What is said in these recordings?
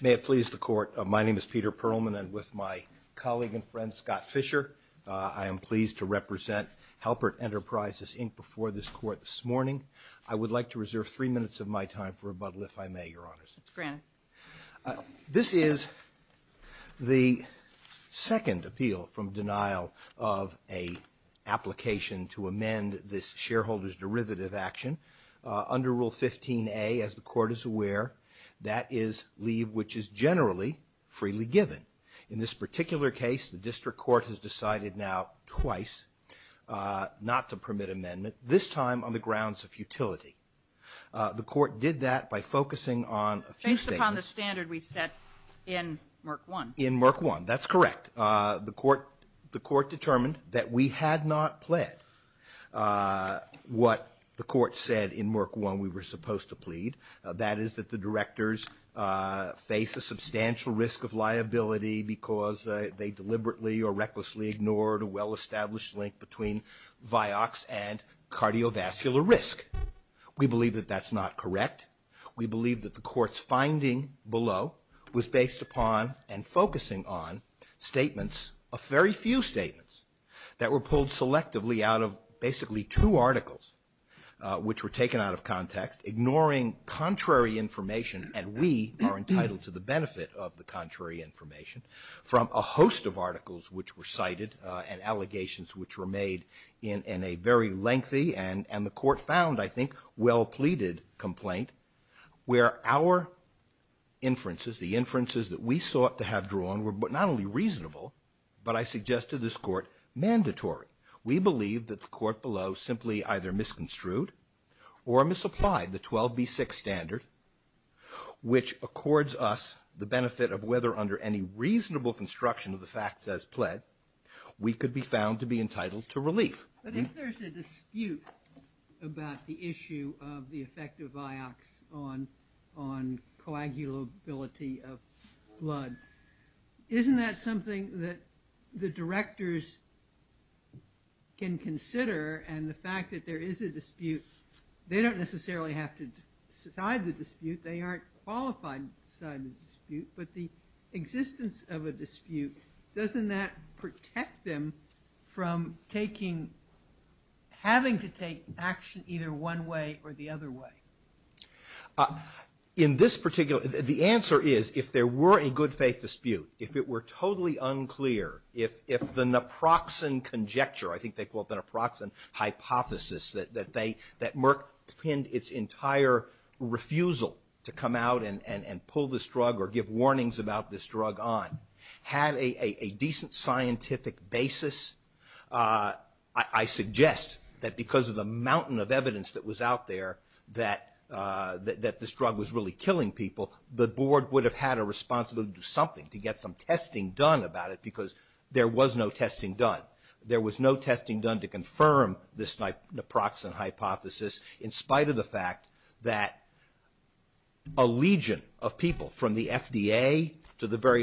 May it please the Court, my name is Peter Perlman and with my colleague and friend Scott Fisher I am pleased to represent Halpert Enterprises Inc. before this Court this morning. I would like to reserve three minutes of my time for rebuttal if I may, Your Honors. This is the second appeal from denial of a application to amend this shareholders derivative action under Rule 15a as the Court is aware that is leave which is generally freely given. In this particular case the District Court has decided now twice not to permit amendment this time on the grounds of the standard we set in Merck 1. In Merck 1, that's correct. The Court determined that we had not pled what the Court said in Merck 1 we were supposed to plead. That is that the directors face a substantial risk of liability because they deliberately or recklessly ignored a well-established link between Vioxx and cardiovascular risk. We believe that that's not correct. We believe that the finding below was based upon and focusing on statements of very few statements that were pulled selectively out of basically two articles which were taken out of context ignoring contrary information and we are entitled to the benefit of the contrary information from a host of articles which were cited and allegations which were made in a very lengthy and the Court found I think well-pleaded complaint where our inferences, the inferences that we sought to have drawn were not only reasonable, but I suggest to this Court mandatory. We believe that the Court below simply either misconstrued or misapplied the 12b-6 standard, which accords us the benefit of whether under any reasonable construction of the facts as pled we could be found to be entitled to relief. But if there's a dispute about the issue of the effect of Vioxx on coagulability of blood, isn't that something that the directors can consider and the fact that there is a dispute, they don't necessarily have to decide the dispute, they aren't qualified to decide the dispute, but the existence of a having to take action either one way or the other way. In this particular, the answer is if there were a good-faith dispute, if it were totally unclear, if the naproxen conjecture, I think they call it the naproxen hypothesis, that Merck pinned its entire refusal to come out and pull this drug or give warnings about this drug on, had a decent scientific basis. I suggest that because of the mountain of evidence that was out there that this drug was really killing people, the Board would have had a responsibility to do something, to get some testing done about it, because there was no testing done. There was no testing done to confirm this naproxen hypothesis in spite of the fact that a legion of people from the FDA to the FDA had a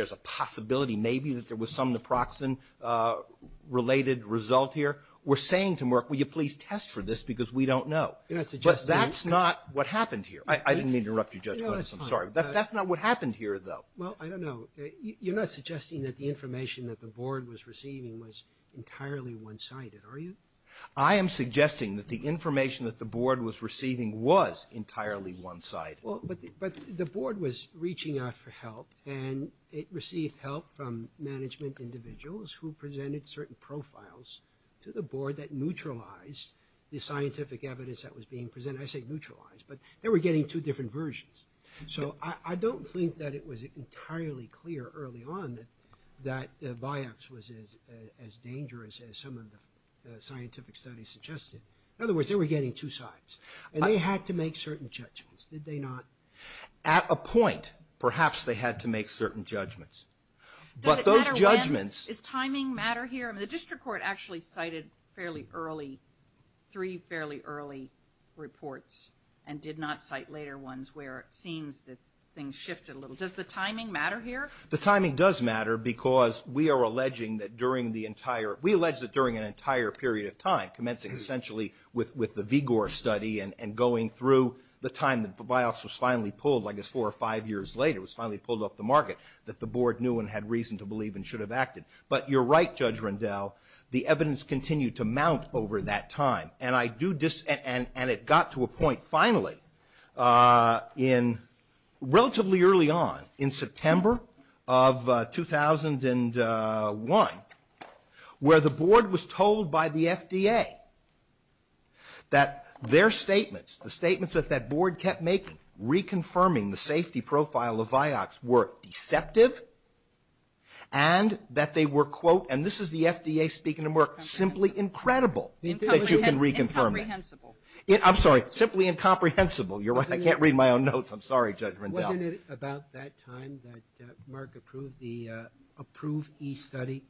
responsibility, maybe, that there was some naproxen-related result here were saying to Merck, will you please test for this, because we don't know. But that's not what happened here. I didn't mean to interrupt you, Judge Goodis, I'm sorry. That's not what happened here, though. Well, I don't know. You're not suggesting that the information that the Board was receiving was entirely one-sided, are you? I am suggesting that the information that the Board was receiving was entirely one-sided. But the Board was reaching out for help, and it received help from management individuals who presented certain profiles to the Board that neutralized the scientific evidence that was being presented. I say neutralized, but they were getting two different versions. So I don't think that it was entirely clear early on that Vioxx was as dangerous as some of the scientific studies suggested. In other words, they were getting two sides, and they had to make certain judgments, did they not? At a point, perhaps they had to make certain judgments. Does it matter when, does timing matter here? The district court actually cited fairly early, three fairly early reports, and did not cite later ones where it seems that things shifted a little. Does the timing matter here? The timing does matter, because we are alleging that during the entire, we allege that during an entire period of time, commencing essentially with the Igor study, and going through the time that Vioxx was finally pulled, I guess four or five years later, was finally pulled off the market, that the Board knew and had reason to believe and should have acted. But you're right, Judge Rendell, the evidence continued to mount over that time. And I do disagree, and it got to a point finally, in relatively early on, in September of 2001, where the their statements, the statements that that Board kept making, reconfirming the safety profile of Vioxx, were deceptive, and that they were, quote, and this is the FDA speaking to Merck, simply incredible that you can reconfirm it. Incomprehensible. I'm sorry, simply incomprehensible. You're right, I can't read my own notes. I'm sorry, Judge Rendell. Wasn't it about that time that Merck approved the, approved e-study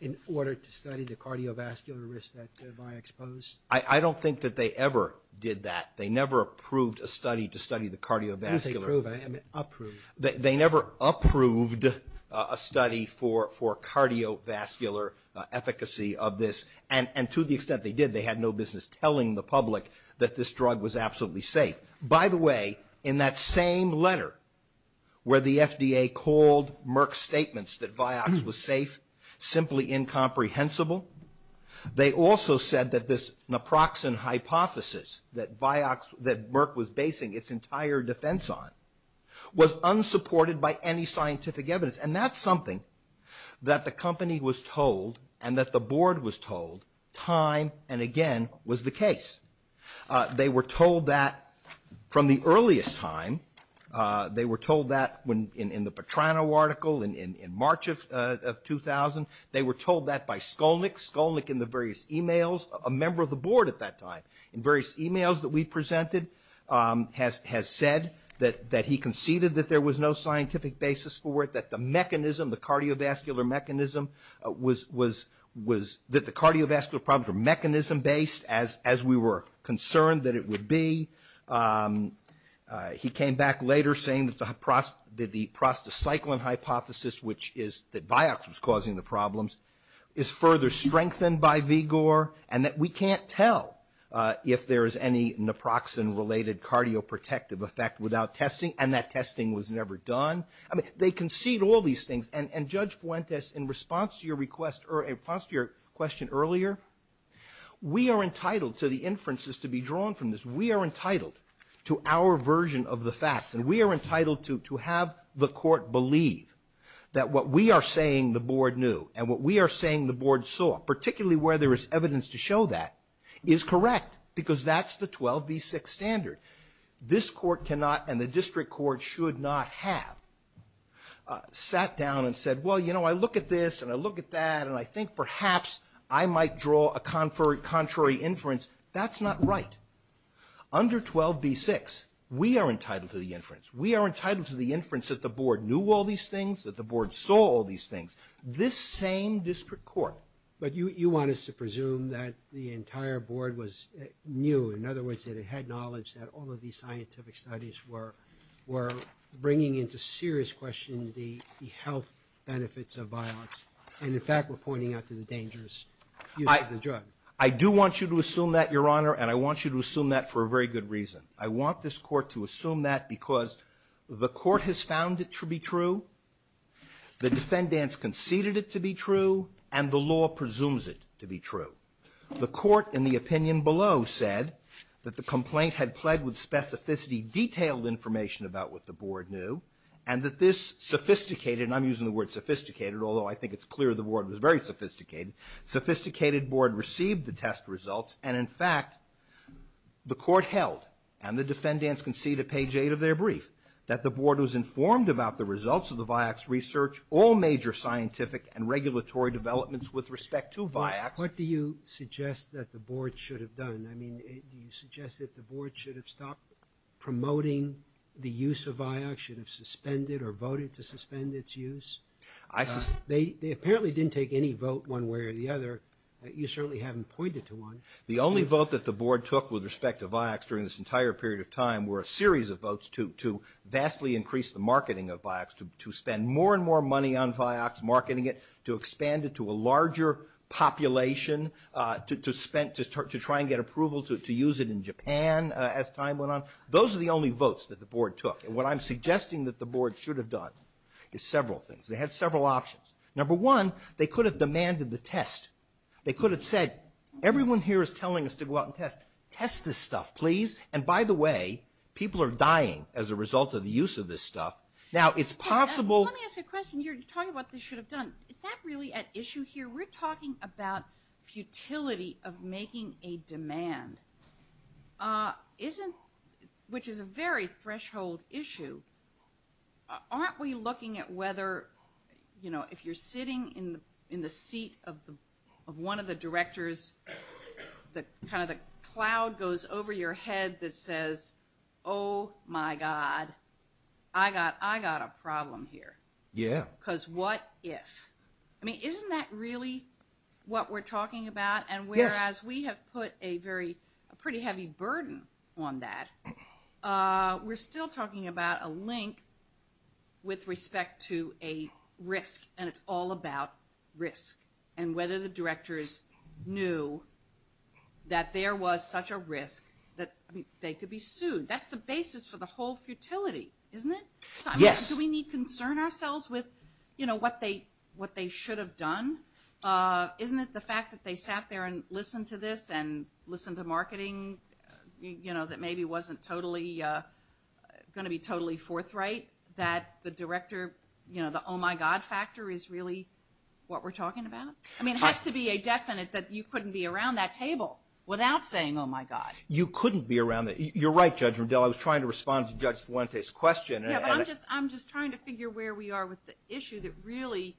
in order to study the cardiovascular risk that Vioxx posed? I don't think that they ever did that. They never approved a study to study the I didn't say approve, I meant approve. They never approved a study for cardiovascular efficacy of this, and to the extent they did, they had no business telling the public that this drug was absolutely safe. By the way, in that same letter where the FDA called Merck's statements that Vioxx was safe, simply incomprehensible, they also said that this naproxen hypothesis that Vioxx, that Merck was basing its entire defense on, was unsupported by any scientific evidence, and that's something that the company was told, and that the board was told, time and again was the case. They were told that from the earliest time. They were told that in the Petrano article in March of 2000. They were told that by Skolnick, Skolnick in the various emails, a member of the board at that time, in various emails that we presented, has said that he conceded that there was no scientific basis for it, that the mechanism, the cardiovascular mechanism was, that the cardiovascular problems were mechanism-based as we were concerned that it would be. He came back later saying that the prostacyclin hypothesis, which is that Vioxx was causing the problems, is further strengthened by Vigor, and that we can't tell if there is any naproxen-related cardioprotective effect without testing, and that testing was never done. I mean, they concede all these things, and Judge Fuentes, in response to your request, or in response to your question earlier, we are entitled to the inferences to be drawn from this. We are entitled to our version of the facts, and we are entitled to have the court believe that what we are saying the board knew, and what we are saying the board saw, particularly where there is evidence to show that, is correct, because that's the 12b6 standard. This court cannot, and the district court should not have, sat down and said, well, you know, I look at this, and I look at that, and I think perhaps I might draw a contrary inference. That's not right. Under 12b6, we are entitled to the inference. We are entitled to the inference that the board knew all these things, that the board saw all these things. This same district court. But you want us to presume that the entire board was new. In other words, that it had knowledge that all of these scientific studies were bringing into serious question the health benefits of Vioxx, and in fact were pointing out to the dangers of the drug. I do want you to assume that, Your Honor, and I want you to assume that for a very good reason. I want this court to assume that because the court has found it to be true, the defendants conceded it to be true, and the law presumes it to be true. The court, in the opinion below, said that the complaint had plagued with specificity detailed information about what the board knew, and that this sophisticated, and I'm using the word sophisticated, although I think it's clear the board was very sophisticated, sophisticated board received the test results, and in fact, the court held, and the defendants conceded at page 8 of their brief, that the board was informed about the results of the Vioxx research, all major scientific and regulatory developments with respect to Vioxx. What do you suggest that the board should have done? I mean, do you suggest that the board should have stopped promoting the use of Vioxx, should have suspended or voted to suspend its use? They apparently didn't take any vote one way or the other. You certainly haven't pointed to one. The only vote that the board took with respect to Vioxx during this entire period of time were a series of votes to vastly increase the marketing of Vioxx, to spend more and more money on Vioxx, marketing it, to expand it to a larger population, to try and get approval to use it in Japan as time went on. Those are the only votes that the board took, and what I'm suggesting that the board should have done is several things. They had several options. Number one, they could have demanded the test. They could have said, everyone here is telling us to go out and test. Test this stuff, please. And by the way, people are dying as a result of the use of this stuff. Now, it's possible... Let me ask a question. You're talking about what they should have done. Is that really at issue here? We're talking about futility of making a demand, which is a very threshold issue. Aren't we looking at whether, you know, if you're sitting in the seat of one of the directors, kind of the cloud goes over your head that says, oh my god, I got a problem here. Yeah. Because what if? I mean, isn't that really what we're talking about? And whereas we have put a very pretty heavy burden on that, we're still talking about a link with respect to a risk, and it's all about risk, and whether the directors knew that there was such a risk that they could be sued. That's the basis for the whole futility, isn't it? Yes. Do we need concern ourselves with, you know, what they should have done? Isn't it the fact that they sat there and listened to this, and listened to marketing, you know, that maybe wasn't totally going to be totally forthright, that the director, you know, the oh-my-god factor is really what we're talking about? I mean, it has to be a definite that you couldn't be around that table without saying, oh my god. You couldn't be around that. You're right, Judge Rundell. I was trying to respond to Judge Fuentes' question. I'm just trying to figure where we are with the issue that really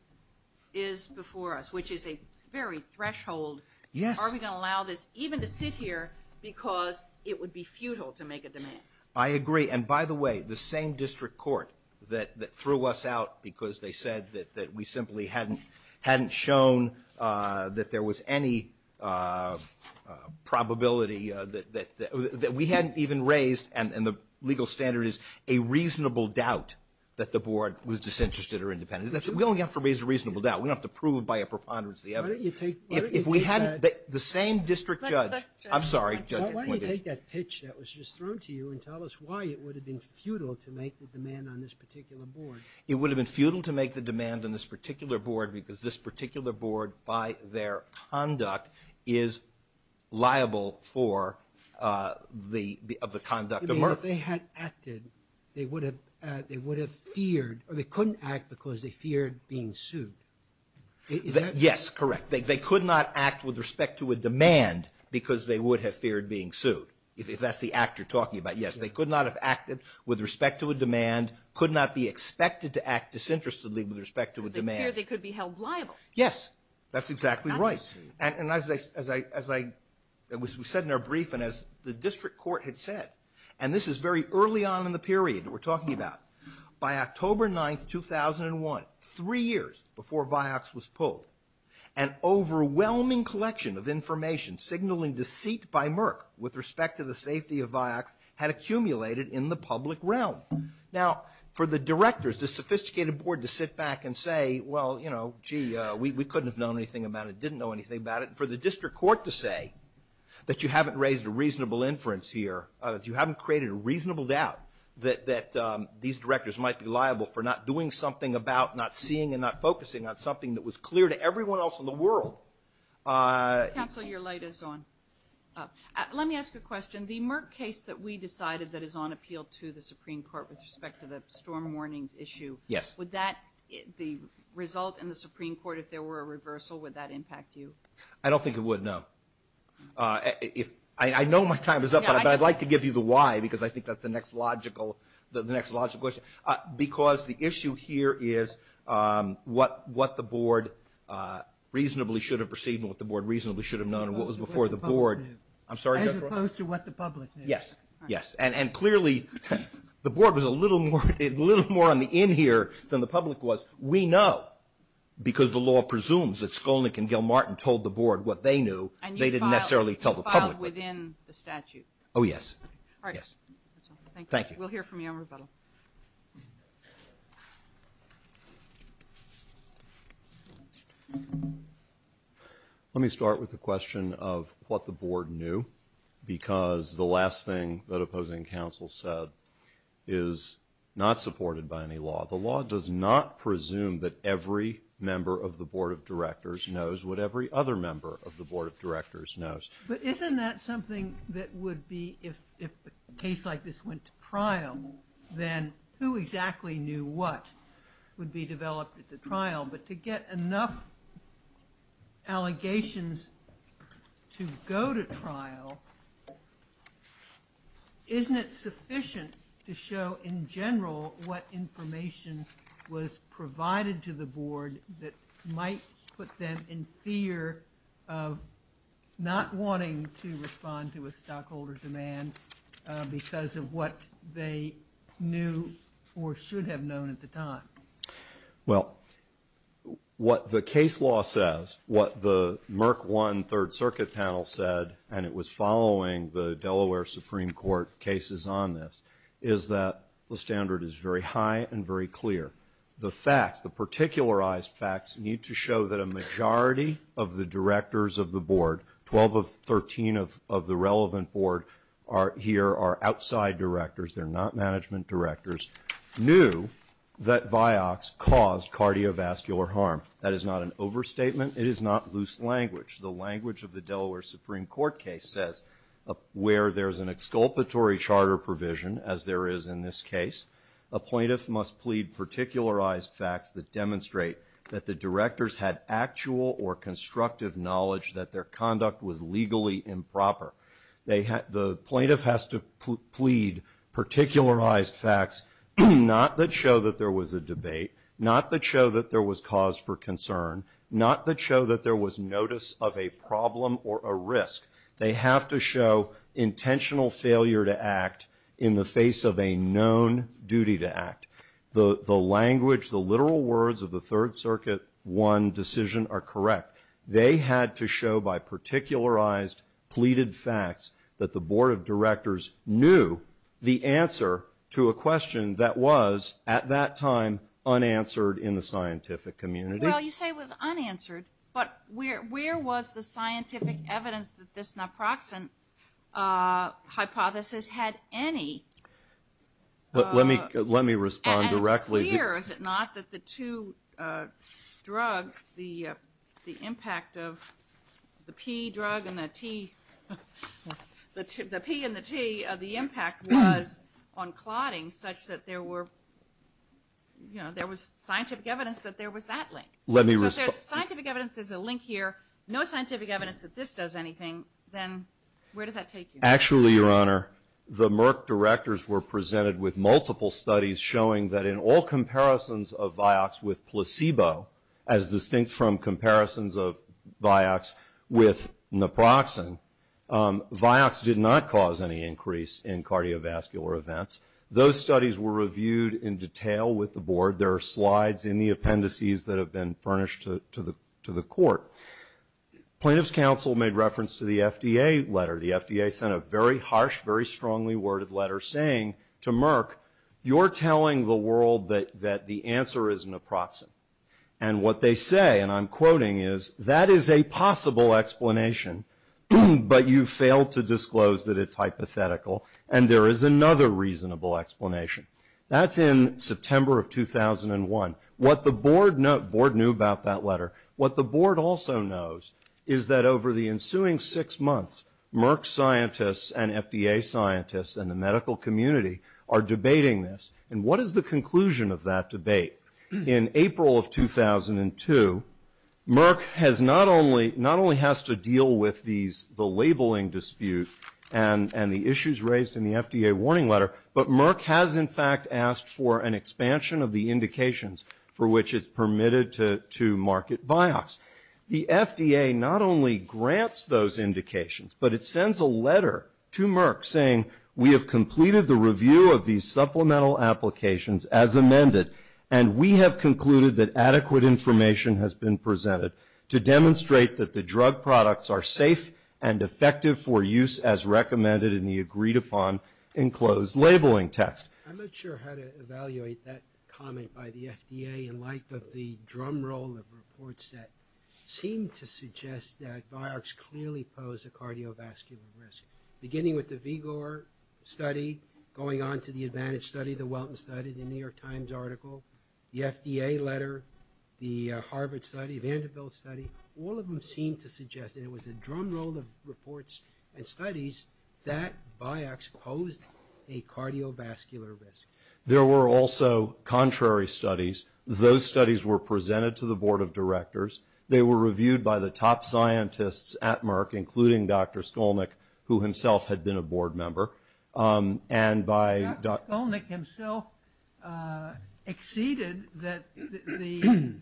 is before us, which is a very threshold. Yes. Are we gonna allow this even to sit here because it would be futile to make a demand? I agree, and by the way, the same district court that threw us out because they said that we simply hadn't shown that there was any probability that we hadn't even raised, and the legal standard is a reasonable doubt that the board was disinterested or independent. We only have to raise a reasonable doubt. We don't have to prove by a preponderance of the evidence. If we hadn't, the same district judge, I'm sorry, Judge Fuentes. Why don't you take that pitch that was just thrown to you and tell us why it would have been futile to make the demand on this particular board? It would have been futile to make the demand on this particular board because this particular board, by their conduct, is liable for the conduct of Murphy. If they had acted, they would have feared, or they couldn't act because they feared being sued. Yes, correct. They could not act with respect to a demand because they would have feared being sued, if that's the actor talking about. Yes, they could not have acted with respect to a demand, could not be expected to act disinterestedly with respect to a demand. Because they feared they could be held liable. Yes, that's exactly right, and as we said in our brief, and as the district court had said, and this is very early on in the period that we're talking about, by October 9th, 2001, three years before Vioxx was pulled, an overwhelming collection of information signaling deceit by Merck with respect to the safety of Vioxx had accumulated in the public realm. Now, for the directors, the sophisticated board to sit back and say, well, you know, gee, we couldn't have known anything about it, didn't know anything about it. For the district court to say that you haven't raised a reasonable inference here, that you haven't created a reasonable doubt that these directors might be liable for not doing something about, not seeing, and not focusing on something that was clear to everyone else in the district. Counsel, your light is on. Let me ask a question. The Merck case that we decided that is on appeal to the Supreme Court with respect to the storm warnings issue, would that, the result in the Supreme Court, if there were a reversal, would that impact you? I don't think it would, no. I know my time is up, but I'd like to give you the why, because I think that's the next logical, the next logical question. Because the issue here is what the board reasonably should have known and what was before the board. I'm sorry? As opposed to what the public knew. Yes, yes. And clearly, the board was a little more, a little more on the in here than the public was. We know, because the law presumes that Skolnick and Gilmartin told the board what they knew, they didn't necessarily tell the public. And you filed within the statute. Oh, yes. All right. Yes. Thank you. We'll hear from you on rebuttal. Let me start with the question of what the board knew, because the last thing that opposing counsel said is not supported by any law. The law does not presume that every member of the Board of Directors knows what every other member of the Board of Directors knows. But isn't that something that would be, if a case like this went to trial, then who exactly knew what would be developed at the trial? But to get enough allegations to go to trial, isn't it sufficient to show in general what information was provided to the board that might put them in fear of not wanting to respond to a stockholder demand because of what they knew or should have known at the time? Well, what the case law says, what the Merck One Third Circuit panel said, and it was following the Delaware Supreme Court cases on this, is that the standard is very high and very clear. The facts, the particularized facts, need to show that a here are outside directors, they're not management directors, knew that Vioxx caused cardiovascular harm. That is not an overstatement, it is not loose language. The language of the Delaware Supreme Court case says where there's an exculpatory charter provision, as there is in this case, a plaintiff must plead particularized facts that demonstrate that the directors had actual or the plaintiff has to plead particularized facts, not that show that there was a debate, not that show that there was cause for concern, not that show that there was notice of a problem or a risk. They have to show intentional failure to act in the face of a known duty to act. The language, the literal words of the Third Circuit One decision are correct. They had to show by particularized, pleaded facts that the Board of Directors knew the answer to a question that was, at that time, unanswered in the scientific community. Well, you say it was unanswered, but where was the scientific evidence that this naproxen hypothesis had any... Let me respond directly. It's clear, is it not, that the two drugs, the impact of the P drug and the T, the P and the T, the impact was on clotting such that there were, you know, there was scientific evidence that there was that link. So if there's scientific evidence, there's a link here, no scientific evidence that this does anything, then where does that take you? Actually, Your Honor, the Merck directors were presented with multiple studies showing that in all comparisons of Vioxx with placebo, as distinct from comparisons of Vioxx with naproxen, Vioxx did not cause any increase in cardiovascular events. Those studies were reviewed in detail with the board. There are slides in the appendices that have been furnished to the court. Plaintiff's counsel made reference to the FDA letter. The FDA sent a very harsh, very strongly worded letter saying to the world that the answer is naproxen. And what they say, and I'm quoting, is that is a possible explanation, but you fail to disclose that it's hypothetical, and there is another reasonable explanation. That's in September of 2001. What the board knew about that letter, what the board also knows is that over the ensuing six months, Merck scientists and FDA scientists and the medical community are debating this. And what is the conclusion of that debate? In April of 2002, Merck not only has to deal with the labeling dispute and the issues raised in the FDA warning letter, but Merck has in fact asked for an expansion of the indications for which it's permitted to market Vioxx. The FDA not only grants those indications, but it sends a letter to Merck saying we have completed the review of these supplemental applications as amended, and we have concluded that adequate information has been presented to demonstrate that the drug products are safe and effective for use as recommended in the agreed upon enclosed labeling text. I'm not sure how to evaluate that comment by the FDA in light of the drumroll of reports that seem to suggest that Vioxx clearly pose a cardiovascular risk. Beginning with the Vigor study, going on to the Advantage study, the Welton study, the New York Times article, the FDA letter, the Harvard study, the Vanderbilt study, all of them seem to suggest, and it was a drumroll of reports and studies, that Vioxx posed a cardiovascular risk. There were also contrary studies. Those studies were presented to the board of directors. They were reviewed by the top scientists at Merck, including Dr. Skolnick, who himself had been a board member, and by Dr. Skolnick himself acceded that the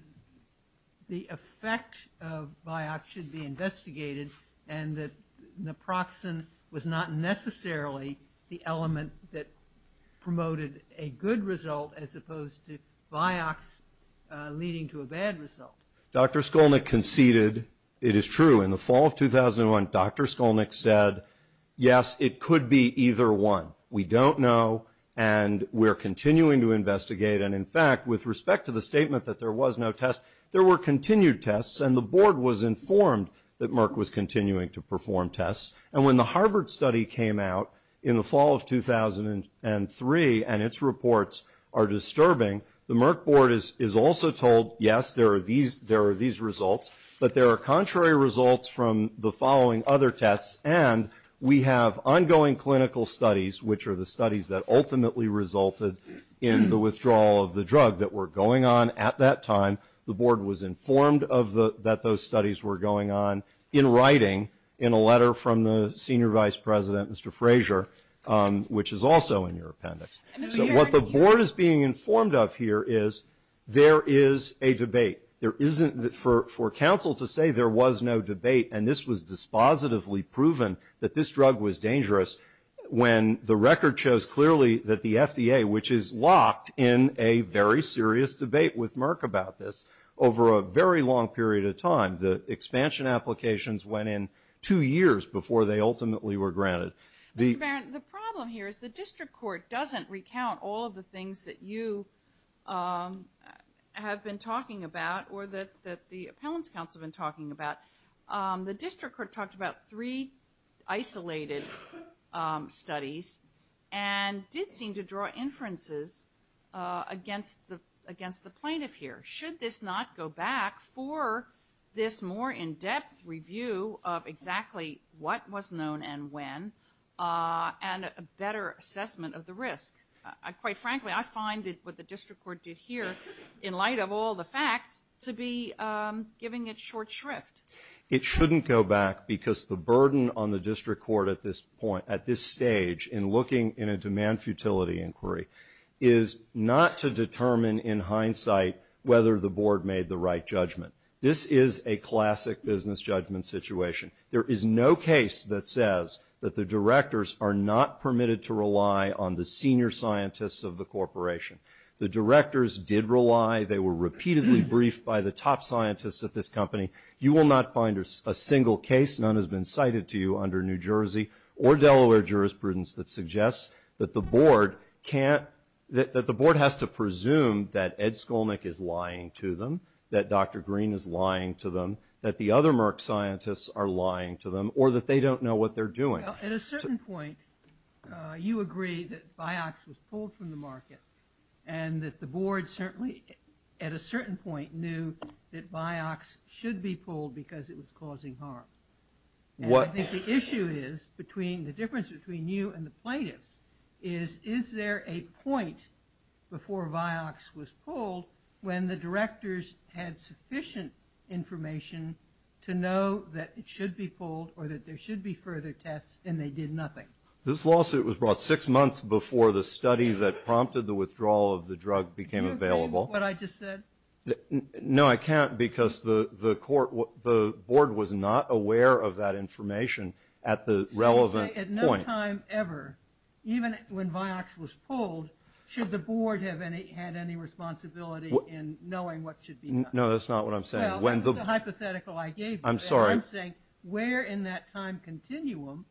effect of Vioxx should be investigated, and that naproxen was not necessarily the element that promoted a good result as opposed to Vioxx leading to a bad result. Dr. Skolnick conceded it is true. In the fall of 2001, Dr. Skolnick said, yes, it could be either one. We don't know, and we're continuing to investigate. And in fact, with respect to the statement that there was no test, there were continued tests, and the board was informed that Merck was continuing to perform tests. And when the Harvard study came out in the fall of 2003 and its reports are disturbing, the Merck board is also told, yes, there are these results, but there are contrary results from the following other tests, and we have ongoing clinical studies, which are the studies that ultimately resulted in the withdrawal of the drug that were going on at that time. The board was informed that those studies were going on in writing in a letter from the senior vice president, Mr. Frazier, which is also in your appendix. So what the board is being informed of here is there is a debate. There isn't, for counsel to say there was no debate, and this was dispositively proven that this drug was dangerous, when the record shows clearly that the FDA, which is locked in a very serious debate with Merck about this, over a very long period of time, the expansion applications went in two years before they ultimately were approved. So just to recount all of the things that you have been talking about or that the appellant's counsel have been talking about, the district court talked about three isolated studies and did seem to draw inferences against the plaintiff here. Should this not go back for this more in-depth review of exactly what was known and when, and a better assessment of the risk? Quite frankly, I find that what the district court did here, in light of all the facts, to be giving it short shrift. It shouldn't go back because the burden on the district court at this point, at this stage, in looking in a demand futility inquiry, is not to determine in hindsight whether the board made the right judgment. This is a classic business judgment situation. There is no case that says that the directors are not permitted to rely on the senior scientists of the corporation. The directors did rely. They were repeatedly briefed by the top scientists at this company. You will not find a single case, none has been cited to you under New Jersey or Delaware jurisprudence, that suggests that the board can't, that the board has to presume that Ed Skolnick is lying to them, that Dr. Green is lying to them, that the other Merck scientists are lying to them, or that they don't know what they're doing. At a certain point, you agree that Vioxx was pulled from the market and that the board certainly, at a certain point, knew that Vioxx should be pulled because it was causing harm. What I think the issue is between, the difference between you and the plaintiffs, is, is there a point before Vioxx was pulled when the directors had sufficient information to know that it should be pulled or that there should be further tests and they did nothing? This lawsuit was brought six months before the study that prompted the withdrawal of the drug became available. Do you agree with what I just said? No, I can't because the court, the board was not aware of that information at the time. Even when Vioxx was pulled, should the board have any, had any responsibility in knowing what should be done? No, that's not what I'm saying. Well, that's the hypothetical I gave you. I'm sorry. I'm saying, where in that time continuum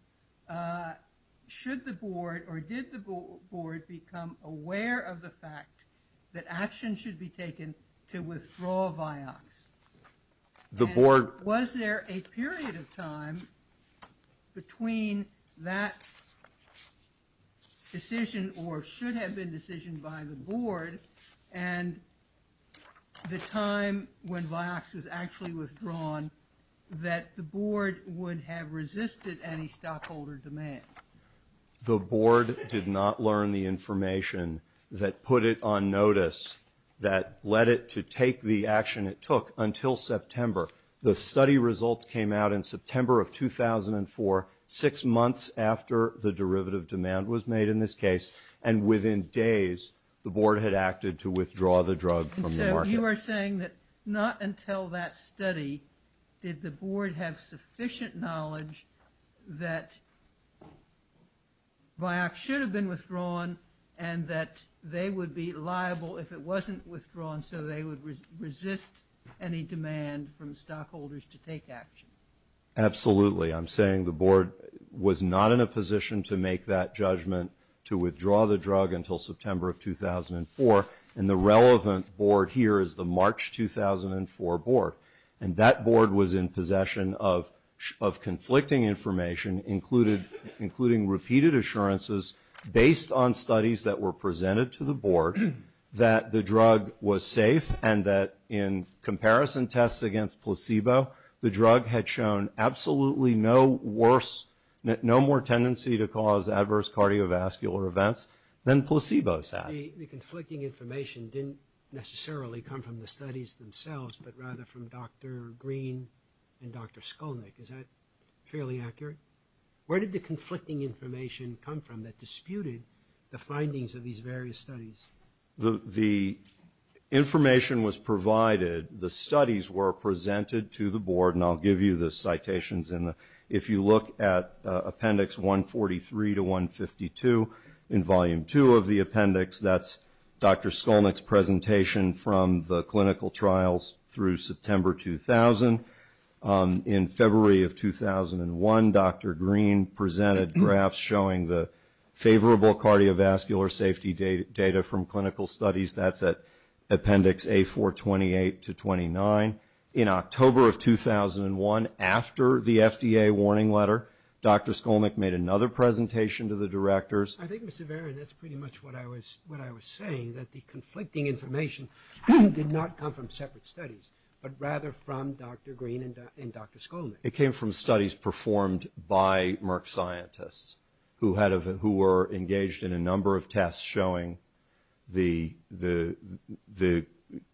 should the board, or did the board, become aware of the fact that action should be taken to withdraw Vioxx? The board... Was there a period of time between that decision, or should have been decision by the board, and the time when Vioxx was actually withdrawn, that the board would have resisted any stockholder demand? The board did not learn the information that put it on notice, that led it to take the action it took until September. The study results came out in September of 2004, six months after the derivative demand was made in this case, and within days the board had acted to withdraw the drug from the market. You are saying that not until that study did the board have sufficient knowledge that Vioxx should have been withdrawn, and that they would be liable if it wasn't withdrawn, so they would resist any demand from stockholders to take action? Absolutely. I'm saying the board was not in a position to make that judgment to withdraw the drug until September of 2004, and the relevant board here is the March 2004 board, and that board was in possession of conflicting information, including repeated assurances based on studies that were presented to the board that the drug was safe, and that in comparison to tests against placebo, the drug had shown absolutely no worse, no more tendency to cause adverse cardiovascular events than placebos had. The conflicting information didn't necessarily come from the studies themselves, but rather from Dr. Green and Dr. Skolnick. Is that fairly accurate? Where did the conflicting information come from that disputed the findings of these various studies? The information was provided, the studies were presented to the board, and I'll give you the citations in the, if you look at appendix 143 to 152 in volume 2 of the appendix, that's Dr. Skolnick's presentation from the clinical trials through September 2000. In February of 2001, Dr. Green presented graphs showing the favorable cardiovascular safety data from clinical studies. That's at appendix A428 to 29. In October of 2001, after the FDA warning letter, Dr. Skolnick made another presentation to the directors. I think, Mr. Varen, that's pretty much what I was saying, that the conflicting information did not come from separate studies, but rather from Dr. Green and Dr. Skolnick. It came from studies performed by Merck scientists who were engaged in a number of tests showing the,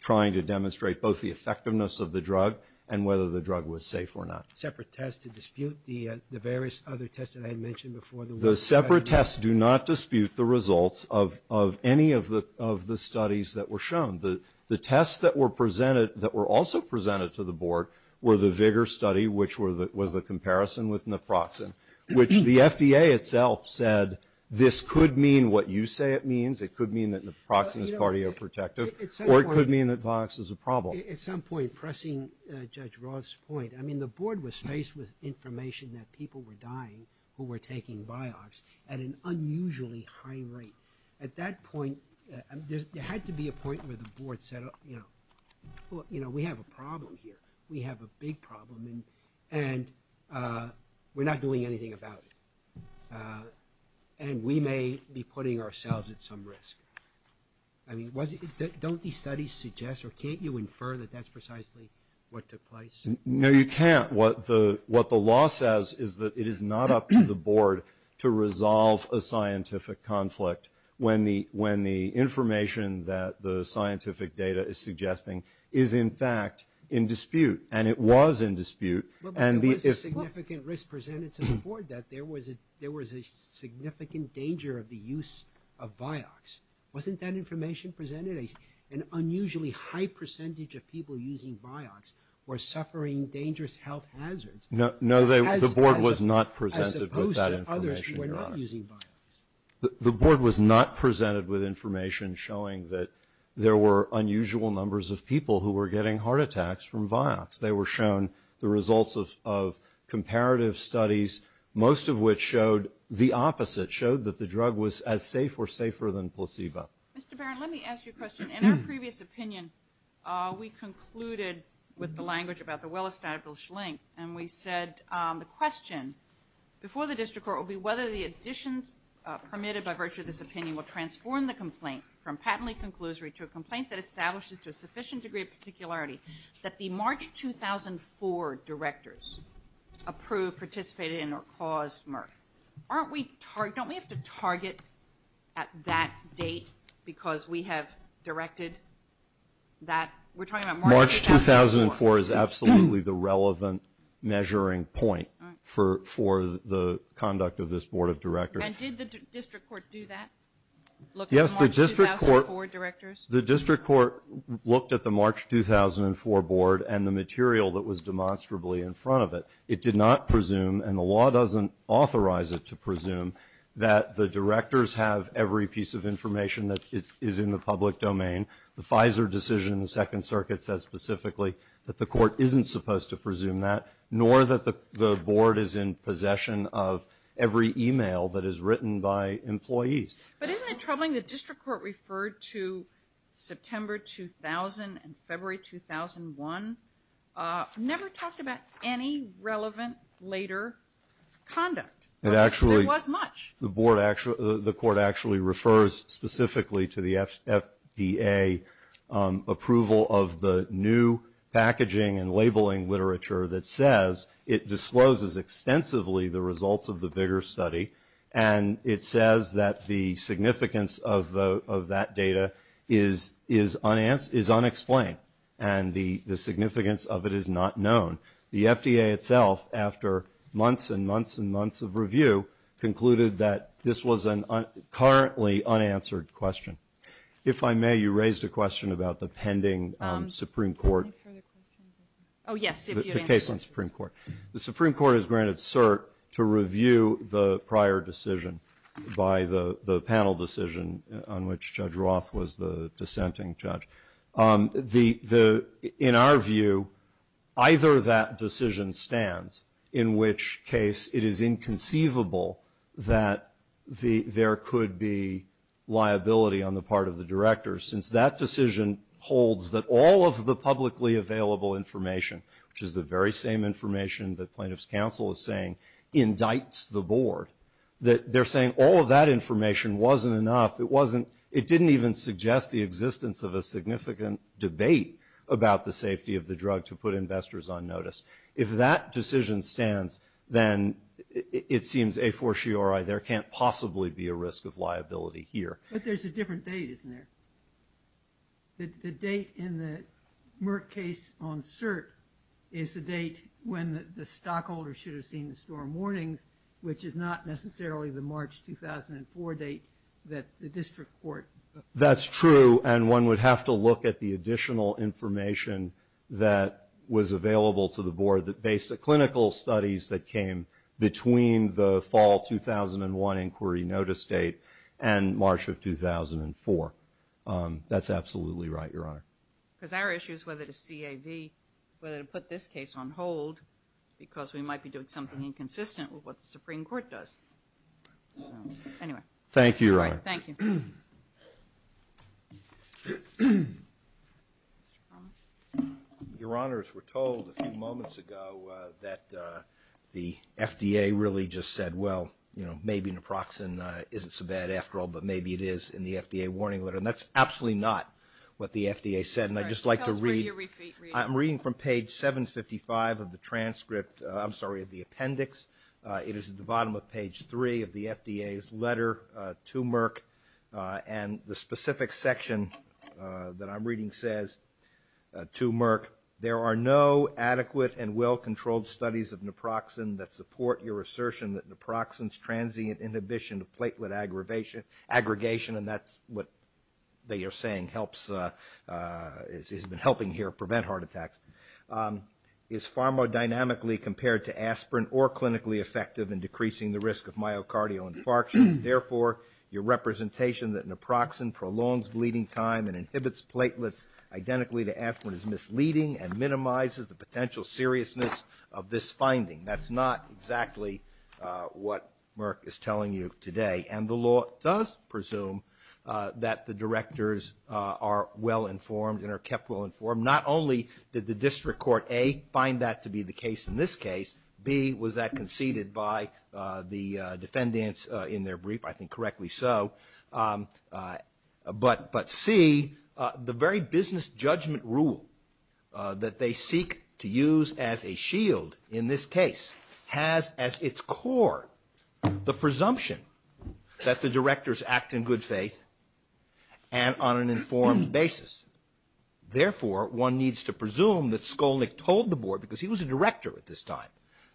trying to demonstrate both the effectiveness of the drug and whether the drug was safe or not. Separate tests to dispute the various other tests that I had mentioned before? The separate tests do not dispute the results of any of the studies that were shown. The tests that were presented, that were also presented to the board, were the VIGOR study, which was the comparison with naproxen, which the FDA itself said, this could mean what you say it means, it could mean that naproxen is cardioprotective, or it could mean that Vioxx is a problem. At some point, pressing Judge Roth's point, I mean, the board was faced with information that people were dying who were taking Vioxx at an unusually high rate. At that point, there had to be a point where the board said, you know, we have a problem here. We have a big problem, and we're not doing anything about it. And we may be putting ourselves at some risk. I mean, don't these studies suggest, or can't you infer that that's precisely what took place? No, you can't. What the law says is that it is not up to the board to resolve a scientific conflict when the information that the scientific data is in fact in dispute. And it was in dispute. But there was a significant risk presented to the board that there was a significant danger of the use of Vioxx. Wasn't that information presented? An unusually high percentage of people using Vioxx were suffering dangerous health hazards. No, the board was not presented with that information. As opposed to others who were not using Vioxx. The board was not presented with information showing that there were getting heart attacks from Vioxx. They were shown the results of comparative studies, most of which showed the opposite, showed that the drug was as safe or safer than placebo. Mr. Barron, let me ask you a question. In our previous opinion, we concluded with the language about the well-established link, and we said the question before the district court will be whether the additions permitted by virtue of this opinion will transform the complaint from patently conclusory to a that the March 2004 directors approved, participated in, or caused MRF. Don't we have to target at that date because we have directed that? March 2004 is absolutely the relevant measuring point for the conduct of this board of directors. And did the district court do that? Look at March 2004 directors? The district court looked at the March 2004 board and the material that was demonstrably in front of it. It did not presume, and the law doesn't authorize it to presume, that the directors have every piece of information that is in the public domain. The Pfizer decision in the Second Circuit says specifically that the court isn't supposed to presume that, nor that the board is in possession of every email that is written by employees. But isn't it troubling the district court referred to September 2000 and February 2001, never talked about any relevant later conduct. It actually was much. The board actually, the court actually refers specifically to the FDA approval of the new packaging and labeling literature that says it discloses extensively the results of the VIGAR study. And it says that the significance of that data is unexplained and the significance of it is not known. The FDA itself, after months and months and months of review, concluded that this was a currently unanswered question. If I may, you raised a question about the pending Supreme Court case on Supreme Court. The Supreme Court has granted cert to review the prior decision by the panel decision on which Judge Roth was the dissenting judge. In our view, either that decision stands, in which case it is inconceivable that there could be liability on the part of the directors, since that decision holds that all of the publicly available information, which is the very same information that plaintiff's counsel is saying, indicts the board. That they're saying all of that information wasn't enough, it wasn't, it didn't even suggest the existence of a significant debate about the safety of the drug to put investors on notice. If that decision stands, then it seems a for sure there can't possibly be a risk of liability here. But there's a different date, isn't there? The date in the Merck case on cert is the date when the stockholder should have seen the storm warnings, which is not necessarily the March 2004 date that the district court. That's true, and one would have to look at the additional information that was available to the board that based the clinical studies that came between the fall 2001 inquiry notice date and March of 2004. That's absolutely right, Your Honor. Because our issue is whether to CAV, whether to put this case on hold, because we might be doing something inconsistent with what the Supreme Court does. Anyway. Thank you, Your Honor. Thank you. Your Honors, we're told a few moments ago that the FDA really just said, well, you know, maybe naproxen isn't so bad after all, but maybe it is in the FDA warning letter. And that's absolutely not what the FDA said. And I'd just like to read, I'm reading from page 755 of the transcript, I'm sorry, of the appendix. It is at the bottom of page 3 of the FDA's letter to Merck. And the specific section that I'm reading says to Merck, there are no adequate and well-controlled studies of naproxen that support your assertion that naproxen's transient inhibition of platelet aggregation, and that's what they are saying helps, has been helping here prevent heart attacks, is far more dynamically compared to aspirin or clinically effective in decreasing the risk of myocardial infarction. Therefore, your representation that naproxen prolongs bleeding time and inhibits platelets identically to aspirin is misleading and minimizes the potential seriousness of this finding. That's not exactly what Merck is telling you today. And the law does presume that the directors are well-informed and are kept well-informed. Not only did the district court, A, find that to be the case in this case, B, was that conceded by the defendants in their brief? I think correctly so. But, C, the very business judgment rule that they seek to use as a shield in this case has as its core the presumption that the directors act in good faith and on an informed basis. Therefore, one needs to presume that Skolnick told the board, because he was a director at this time,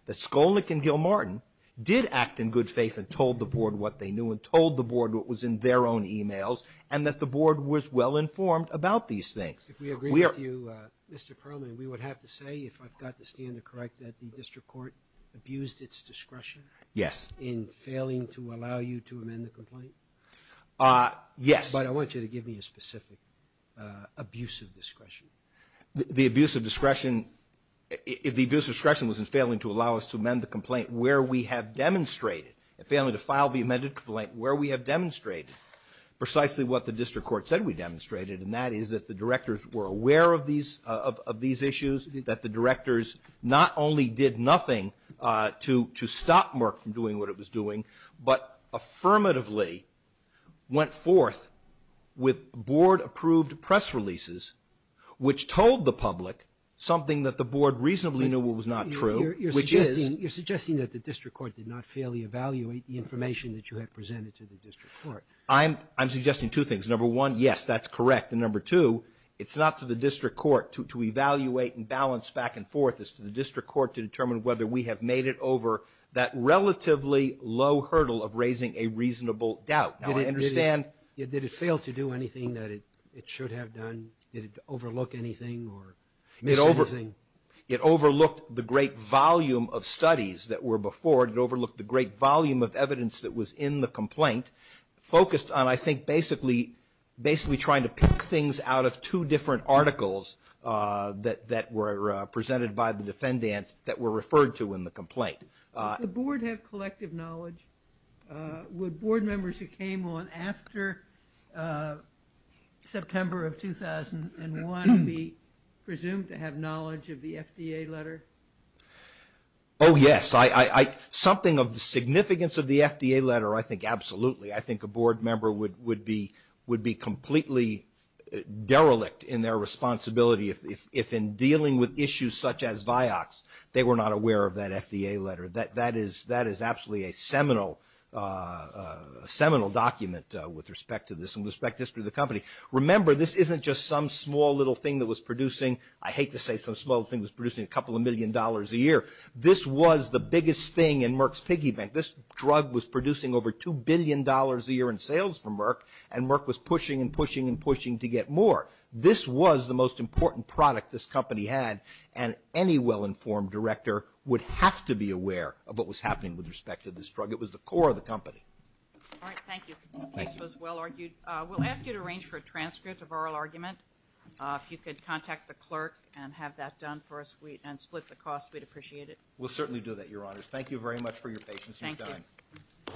that Skolnick and Gilmartin did act in good faith and told the board what they knew and told the board what was in their own emails and that the board was well-informed about these things. If we agree with you, Mr. Perlman, we would have to say, if I've got the answer correct, that the district court abused its discretion? Yes. In failing to allow you to amend the complaint? Yes. But I want you to give me a specific abuse of discretion. The abuse of discretion was in failing to allow us to amend the complaint where we have demonstrated, in failing to file the amended complaint where we have demonstrated precisely what the district court said we demonstrated, and that is that the directors were aware of these issues, that the directors not only did nothing to stop Merck from doing what it was doing, but affirmatively went forth with board-approved press releases which told the public something that the board reasonably knew was not true, which is You're suggesting that the district court did not fairly evaluate the information that you had presented to the district court. I'm suggesting two things. Number one, yes, that's correct. And number two, it's not to the district court to evaluate and balance back and forth. It's to the district court to determine whether we have made it over that relatively low hurdle of raising a reasonable doubt. Did it fail to do anything that it should have done? Did it overlook anything? It overlooked the great volume of studies that were before. It overlooked the great volume of evidence that was in the complaint, focused on, I think, basically trying to pick things out of two different articles that were presented by the defendants that were referred to in the complaint. Does the board have collective knowledge? Would board members who came on after September of 2001 be presumed to have knowledge of the FDA letter? Oh, yes. Something of the significance of the FDA letter, I think, absolutely. I think a board member would be completely derelict in their responsibility if in dealing with issues such as Vioxx, they were not aware of that FDA letter. That is absolutely a seminal document with respect to this and with respect to the company. Remember, this isn't just some small little thing that was producing. I hate to say some small thing that was producing a couple of million dollars a year. This was the biggest thing in Merck's piggy bank. This drug was producing over $2 billion a year in sales for Merck, and Merck was pushing and pushing and pushing to get more. This was the most important product this company had, and any well-informed director would have to be aware of what was happening with respect to this drug. It was the core of the company. All right. Thank you. This case was well argued. We'll ask you to arrange for a transcript of oral argument. If you could contact the clerk and have that done for us and split the cost, we'd appreciate it. We'll certainly do that, Your Honors. Thank you very much for your patience. Thank you.